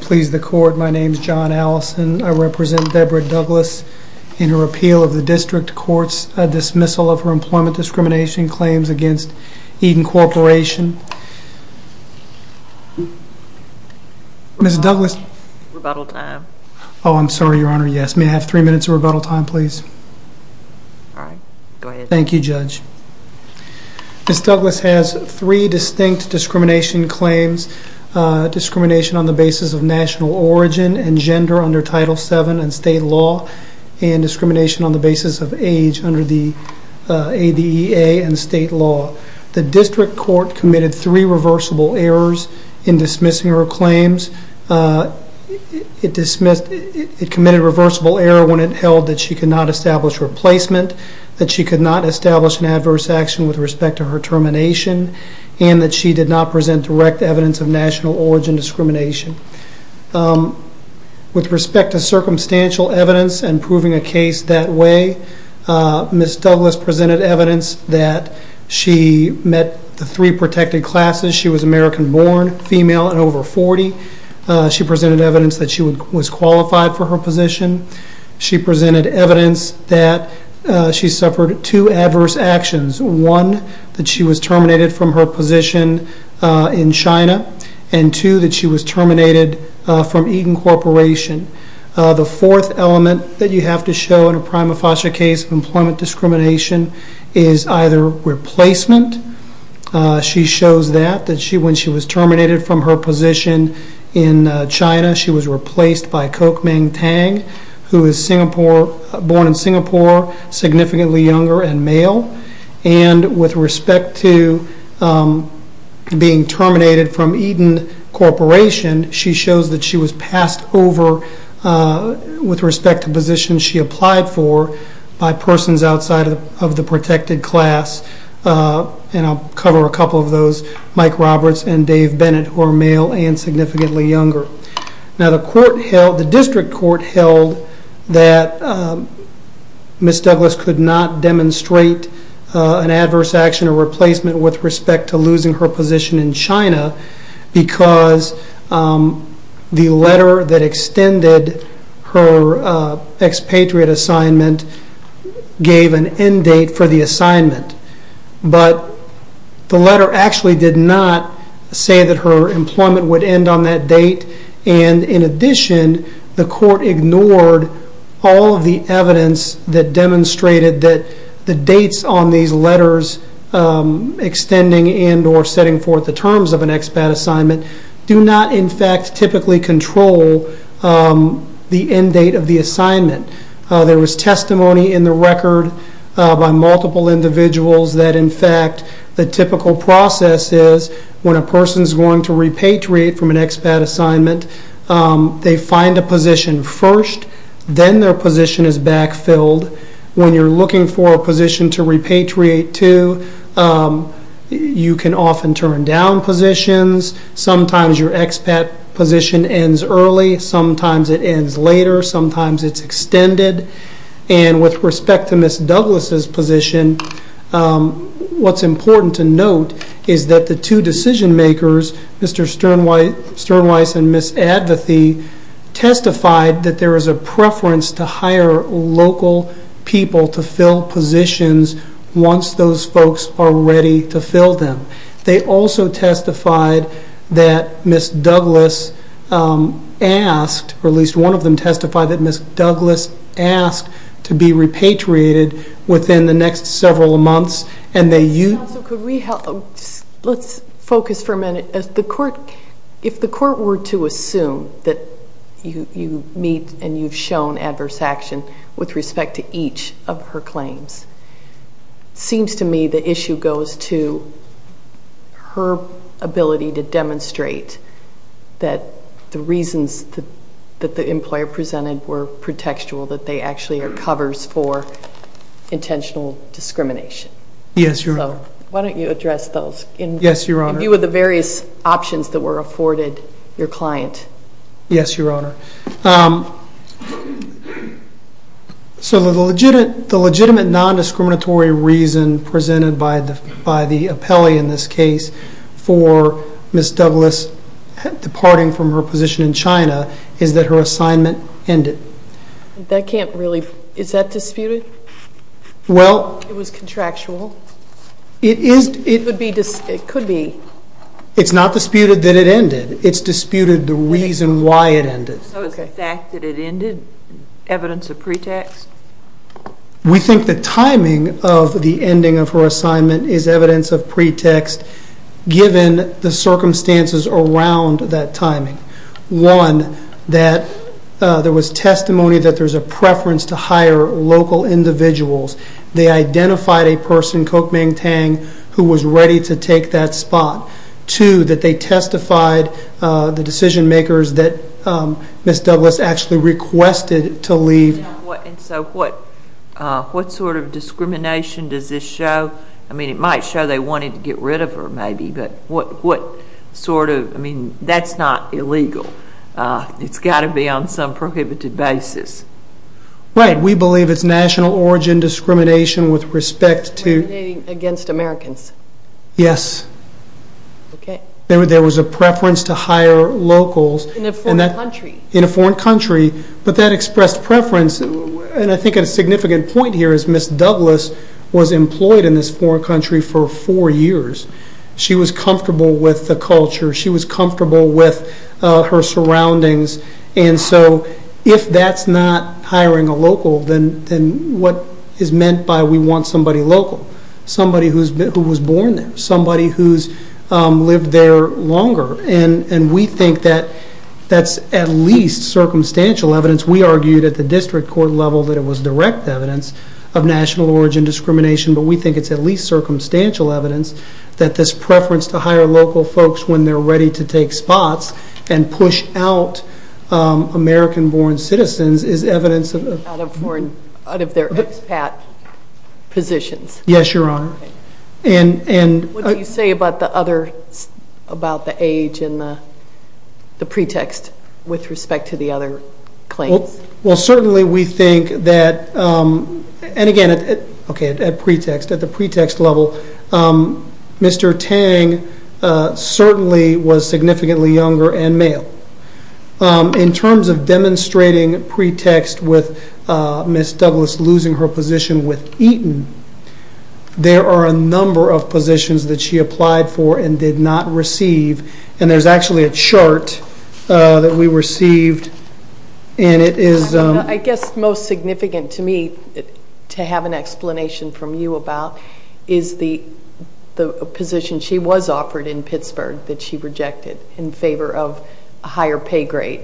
Please the court. My name is John Allison. I represent Deborah Douglas in her appeal of the district court's dismissal of her employment discrimination claims against Eaton Corporation. Mrs. Douglas. Rebuttal time. Oh I'm sorry your honor, yes. May I have three minutes of rebuttal time please? Alright, go ahead. Thank you judge. Mrs. Douglas has three distinct discrimination claims. Discrimination on the basis of national origin and gender under Title VII and state law and discrimination on the basis of age under the ADEA and state law. The district court committed three reversible errors in dismissing her claims. It committed a reversible error when it held that she could not establish replacement, that she could not establish an adverse action with respect to her termination and that she did not present direct evidence of national origin discrimination. With respect to circumstantial evidence and proving a case that way, Mrs. Douglas presented evidence that she met the three protected classes. She was American born, female and over 40. She presented evidence that she was qualified for her position. She presented evidence that she suffered two adverse actions. One, that she was terminated from her position in China and two, that she was terminated from Eaton Corporation. The fourth element that you have to show in a prima facie case of employment discrimination is either replacement. She shows that when she was terminated from her position in China, she was replaced by Kok Meng Tang, who was Singapore, born in Singapore, significantly younger and male. With respect to being terminated from Eaton Corporation, she shows that she was passed over with respect to positions she applied for by persons outside of the protected class. I'll cover a couple of those, Mike Roberts and Dave Bennett, who are male and significantly younger. The district court held that Ms. Douglas could not demonstrate an adverse action or replacement with respect to losing her position in China because the letter that extended her expatriate assignment gave an end date for the assignment. The letter actually did not say that her employment would end on that date. In addition, the court ignored all of the evidence that demonstrated that the dates on these letters extending and or setting forth the terms of an expat assignment do not, in fact, typically control the end date of the assignment. There was testimony in the record by multiple individuals that, in fact, the typical process is when a person is going to repatriate from an expat assignment, they find a position first, then their position is backfilled. When you're looking for a position to repatriate to, you can often turn down positions. Sometimes your expat position ends early, sometimes it ends later, sometimes it's extended. With respect to Ms. Douglas' position, what's important to note is that the two decision makers, Mr. Sternweiss and Ms. Advathy, testified that there was a preference to hire local people to fill positions once those folks are ready to fill them. They also testified that Ms. Douglas asked, or at least one of them testified that Ms. Douglas asked to be repatriated within the next several months and they used... So could we help? Let's focus for a minute. If the court were to assume that you meet and you've shown adverse action with respect to each of her claims, it seems to me the issue goes to her ability to demonstrate that the reasons that the employer presented were pretextual, that they actually are covers for intentional discrimination. Yes, Your Honor. So why don't you address those in view of the various options that were afforded your client. Yes, Your Honor. So the legitimate non-discriminatory reason presented by the appellee in this case for Ms. Douglas departing from her position in China is that her assignment ended. That can't really... Is that disputed? Well... It was contractual? It is... It could be. It's not disputed that it ended. It's disputed the reason why it ended. So is the fact that it ended evidence of pretext? We think the timing of the ending of her assignment is evidence of pretext given the circumstances around that timing. One, that there was testimony that there's a preference to hire local individuals. They identified a person, Kok Ming Tang, who was ready to take that spot. Two, that they testified the decision makers that Ms. Douglas actually requested to leave. What sort of discrimination does this show? I mean, it might show they wanted to get rid of her maybe, but what sort of... I mean, that's not illegal. It's got to be on some prohibited basis. Right. We believe it's national origin discrimination with respect to... Discrimination against Americans. Yes. Okay. There was a preference to hire locals... In a foreign country. In a foreign country, but that expressed preference. I think a significant point here is Ms. Douglas was employed in this foreign country for four years. She was comfortable with the culture. She was comfortable with her surroundings. If that's not hiring a local, then what is meant by we want somebody local? Somebody who was born there. Somebody who's lived there longer. We think that that's at least circumstantial evidence. We argued at the district court level that it was direct evidence of national origin discrimination, but we think it's at least circumstantial evidence that this preference to hire local folks when they're ready to take spots and push out American-born citizens is evidence of... Out of their expat positions. Yes, Your Honor. What do you say about the age and the pretext with respect to the other claims? Certainly we think that... Again, at the pretext level, Mr. Tang certainly was significantly younger and male. In terms of demonstrating pretext with Ms. Douglas losing her position with Eaton, there are a number of positions that she applied for and did not receive. There's actually a chart that we received and it is... I guess most significant to me, to have an explanation from you about, is the position she was offered in Pittsburgh that she rejected in favor of a higher pay grade.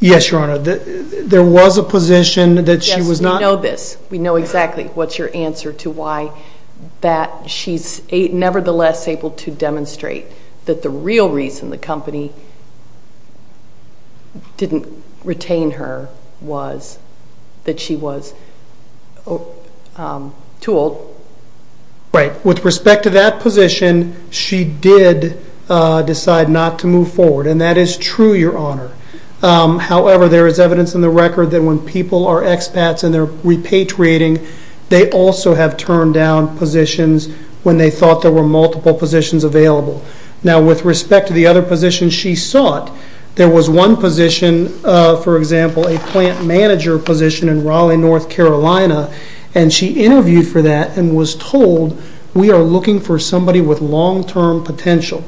Yes, Your Honor. There was a position that she was not... Yes, we know this. We know exactly what's your answer to why that she's nevertheless able to demonstrate that the real reason the company didn't retain her was that she was too old. With respect to that position, she did decide not to move forward and that is true, Your Honor. However, there is evidence in the record that when people are expats and they're repatriating, they also have turned down positions when they thought there were multiple positions available. With respect to the other positions she sought, there was one position, for example, a plant manager position in Raleigh, North Carolina. She interviewed for that and was told, we are looking for somebody with long-term potential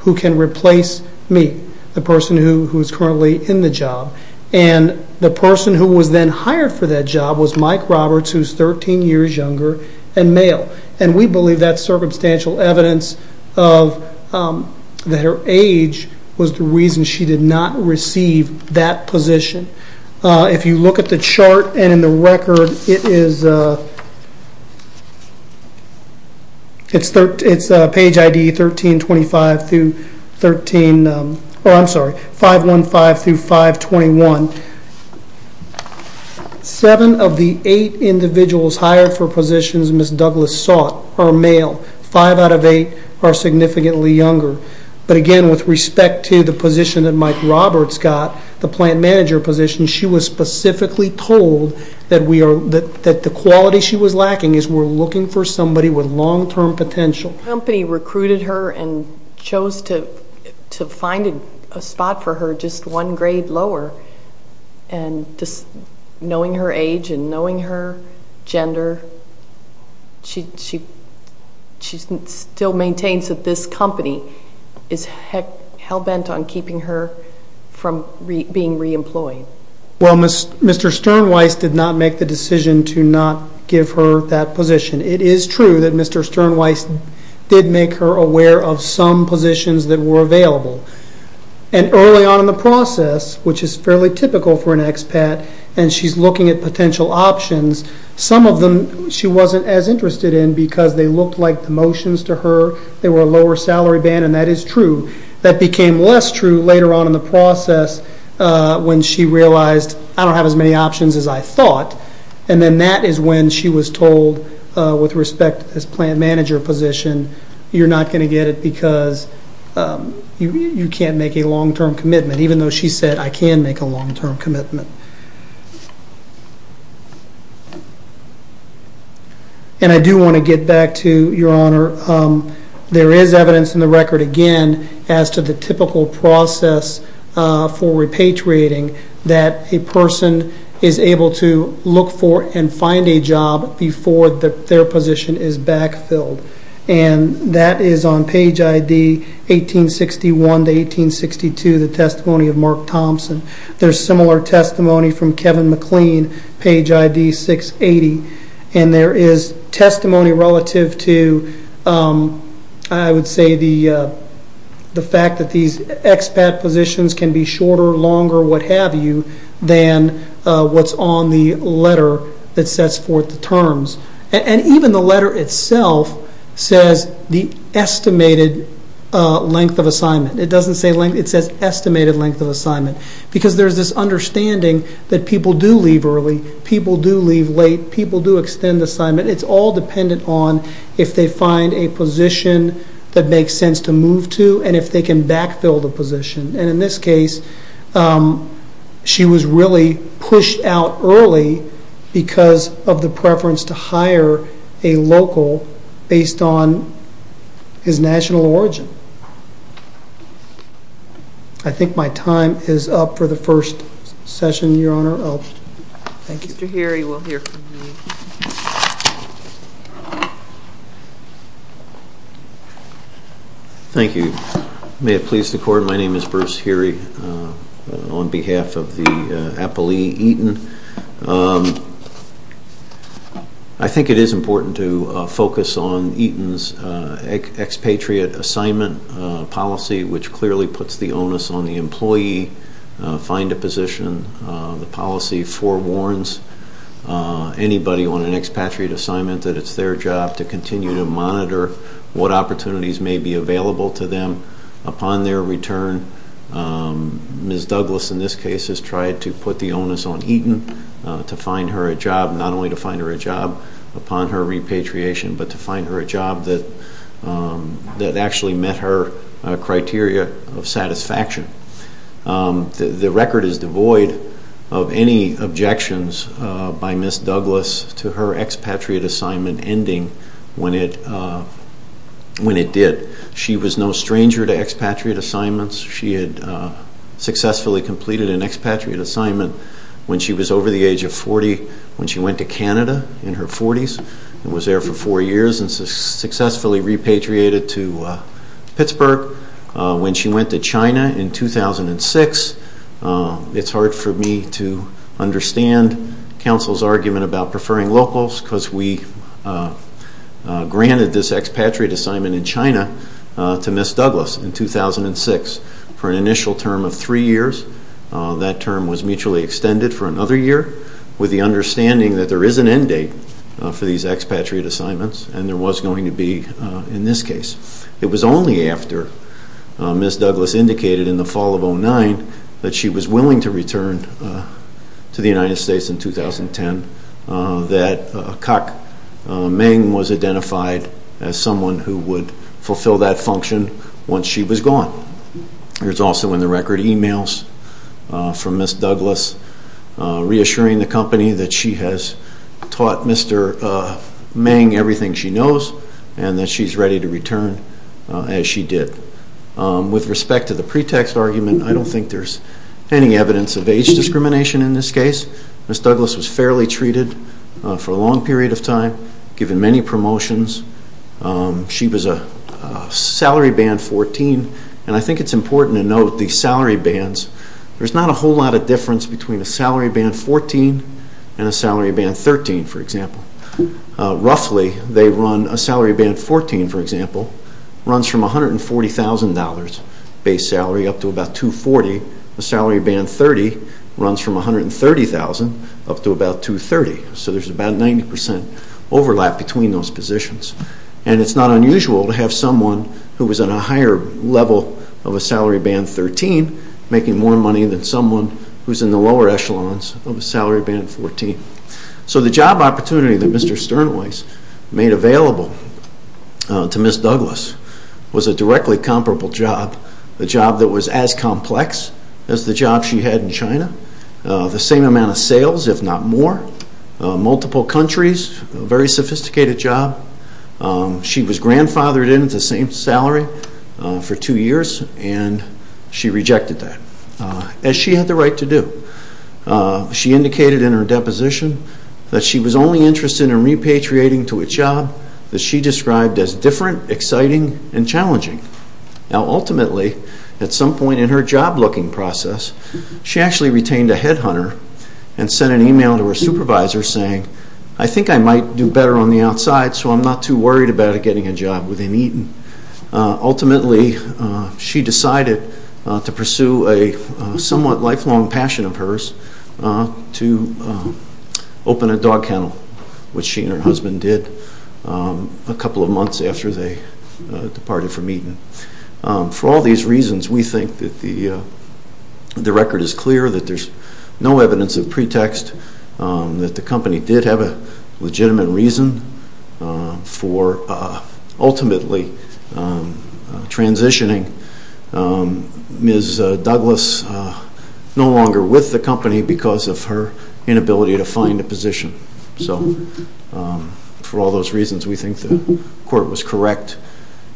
who can replace me, the person who is currently in the job. The person who was then hired for that job was Mike Roberts, who's 13 years younger and male. We believe that's circumstantial evidence that her age was the reason she did not receive that position. If you look at the chart and in the record, it's page ID 5153, and it says 2521. Seven of the eight individuals hired for positions Miss Douglas sought are male. Five out of eight are significantly younger. Again, with respect to the position that Mike Roberts got, the plant manager position, she was specifically told that the quality she was lacking is we're looking for somebody with long-term potential. The company recruited her and chose to find a spot for her just one grade lower, and just knowing her age and knowing her gender, she still maintains that this company is hell-bent on keeping her from being re-employed. Well Mr. Sternweiss did not make the decision to not give her that position. It is true that Mr. Sternweiss did make her aware of some positions that were available, and early on in the process, which is fairly typical for an expat, and she's looking at potential options, some of them she wasn't as interested in because they looked like promotions to her, they were lower salary band, and that is true. That became less true later on in the process when she realized I don't have as many options as I thought, and then that is when she was told with respect to this plant manager position, you're not going to get it because you can't make a long-term commitment, even though she said I can make a long-term commitment. And I do want to get back to your honor, there is evidence in the record again as to the able to look for and find a job before their position is backfilled, and that is on page ID 1861 to 1862, the testimony of Mark Thompson. There's similar testimony from Kevin McLean, page ID 680, and there is testimony relative to I would say the fact that these expat positions can be shorter, longer, what have you, than what's on the letter that sets forth the terms. And even the letter itself says the estimated length of assignment, it doesn't say length, it says estimated length of assignment, because there is this understanding that people do leave early, people do leave late, people do extend the assignment, it's all dependent on if they find a position that makes sense to move to, and if they can backfill the position. And in this case, she was really pushed out early because of the preference to hire a local based on his national origin. I think my time is up for the first session, your honor. Thank you. Mr. Heary, we'll hear from you. Thank you. May it please the court, my name is Bruce Heary on behalf of the appellee Eaton. I think it is important to focus on Eaton's expatriate assignment policy, which clearly puts the onus on the employee, find a position, the policy forewarns anybody on an expatriate assignment that it's their job to continue to monitor what opportunities may be available to them upon their return. Ms. Douglas in this case has tried to put the onus on Eaton to find her a job, not only to find her a job upon her repatriation, but to find her a job that actually met her criteria of satisfaction. The record is devoid of any objections by Ms. Douglas to her expatriate assignment ending when it did. She was no stranger to expatriate assignments. She had successfully completed an expatriate assignment when she was over the age of 40, when she went to Canada in her 40s and was there for four years and successfully repatriated to Pittsburgh. When she went to China in 2006, it's hard for me to understand counsel's argument about to Ms. Douglas in 2006 for an initial term of three years. That term was mutually extended for another year with the understanding that there is an end date for these expatriate assignments and there was going to be in this case. It was only after Ms. Douglas indicated in the fall of 2009 that she was willing to return to the United States in 2010 that Kak Meng was identified as someone who would fulfill that function once she was gone. There's also in the record emails from Ms. Douglas reassuring the company that she has taught Mr. Meng everything she knows and that she's ready to return as she did. With respect to the pretext argument, I don't think there's any evidence of age discrimination in this case. Ms. Douglas was fairly treated for a long period of time, given many promotions. She was a salary band 14, and I think it's important to note the salary bands. There's not a whole lot of difference between a salary band 14 and a salary band 13, for example. Roughly, a salary band 14, for example, runs from $140,000 base salary up to about $240,000. A salary band 30 runs from $130,000 up to about $230,000. So there's about a 90% overlap between those positions. And it's not unusual to have someone who is at a higher level of a salary band 13 making more money than someone who's in the lower echelons of a salary band 14. So the job opportunity that Mr. Sternweiss made available to Ms. Douglas was a directly comparable job, a job that was as complex as the job she had in China. The same amount of sales, if not more. Multiple countries, a very sophisticated job. She was grandfathered in at the same salary for two years, and she rejected that, as she had the right to do. She indicated in her deposition that she was only interested in repatriating to a job that she described as different, exciting, and challenging. Now ultimately, at some point in her job-looking process, she actually retained a headhunter and sent an email to her supervisor saying, I think I might do better on the outside, so I'm not too worried about getting a job within Eaton. Ultimately, she decided to pursue a somewhat lifelong passion of hers to open a dog kennel, which she and her husband did a couple of months after they departed from Eaton. For all these reasons, we think that the record is clear, that there's no evidence of pretext, that the company did have a legitimate reason for ultimately transitioning Ms. Douglas no longer with the company because of her inability to find a position. For all those reasons, we think the court was correct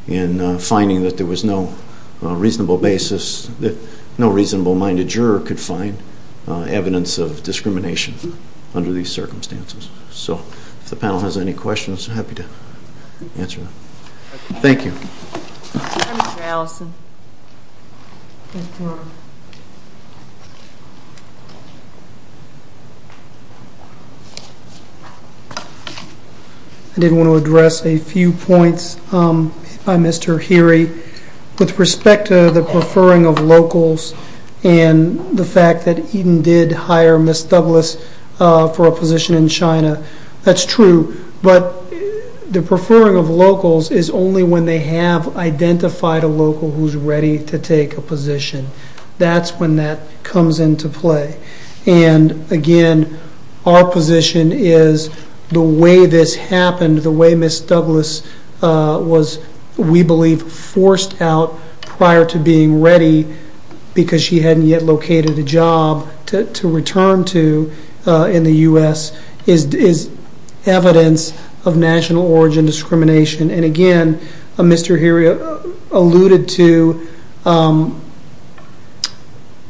in finding that there was no reasonable basis, that no reasonable-minded juror could find evidence of discrimination under these circumstances. So if the panel has any questions, I'm happy to answer them. Thank you. I didn't want to address a few points by Mr. Heery. With respect to the preferring of locals and the fact that Eaton did hire Ms. Douglas for a position in China, that's true. But the preferring of locals is only when they have identified a local who's ready to take a position. That's when that comes into play. And again, our position is the way this happened, the way Ms. Douglas was, we believe, forced out prior to being ready because she hadn't yet located a job to return to in the U.S., is evidence of national origin discrimination. And again, Mr. Heery alluded to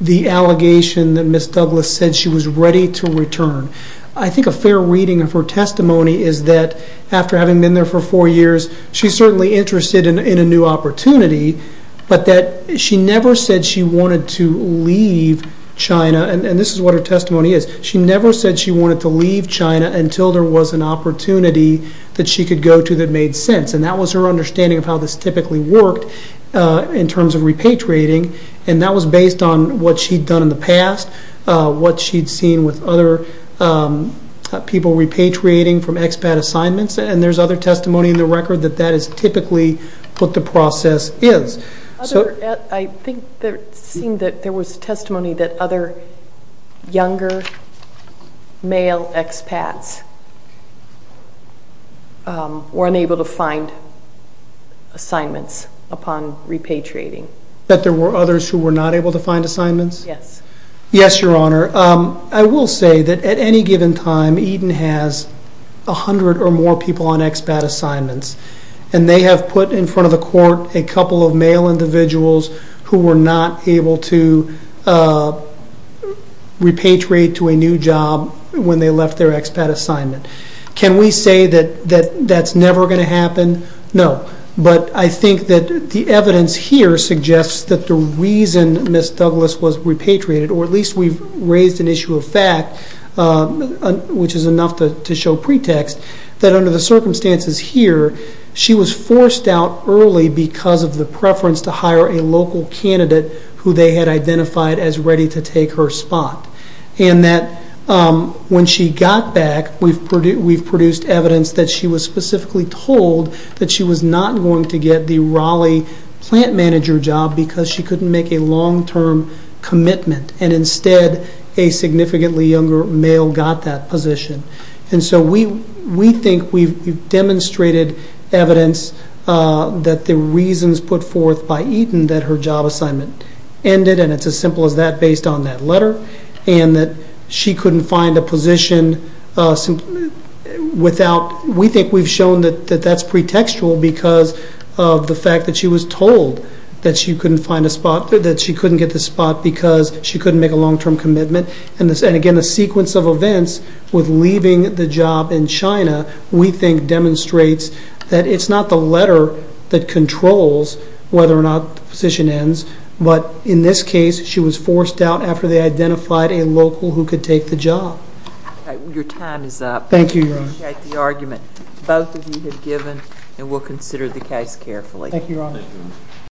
the allegation that Ms. Douglas said she was ready to return. I think a fair reading of her testimony is that after having been there for four years, she's certainly interested in a new opportunity, but that she never said she wanted to leave China. And this is what her testimony is. She never said she wanted to leave China until there was an opportunity that she could go to that made sense. And that was her understanding of how this typically worked in terms of repatriating. And that was based on what she'd done in the past, what she'd seen with other people repatriating from expat assignments. And there's other testimony in the record that that is typically what the process is. I think there seemed that there was testimony that other younger male expats were unable to find assignments upon repatriating. That there were others who were not able to find assignments? Yes. Yes, Your Honor. I will say that at any given time, Eden has 100 or more people on expat assignments, and they have put in front of the court a couple of male individuals who were not able to repatriate to a new job when they left their expat assignment. Can we say that that's never going to happen? No. But I think that the evidence here suggests that the reason Ms. Douglas was repatriated, or at least we've raised an issue of fact, which is enough to show pretext, that under the circumstances here, she was forced out early because of the preference to hire a local candidate who they had identified as ready to take her spot. And that when she got back, we've produced evidence that she was specifically told that she was not going to get the Raleigh plant manager job because she couldn't make a long-term commitment. And instead, a significantly younger male got that position. And so we think we've demonstrated evidence that the reasons put forth by Eden that her job assignment ended, and it's as simple as that based on that letter, and that she couldn't find a position without, we think we've shown that that's pretextual because of the fact that she was told that she couldn't find a spot, that she couldn't get the spot because she couldn't make a long-term commitment. And again, the sequence of events with leaving the job in China, we think demonstrates that it's not the letter that controls whether or not the position ends, but in this case, she was forced out after they identified a local who could take the job. Okay. Your time is up. Thank you, Your Honor. I appreciate the argument both of you have given, and we'll consider the case carefully. Thank you, Your Honor.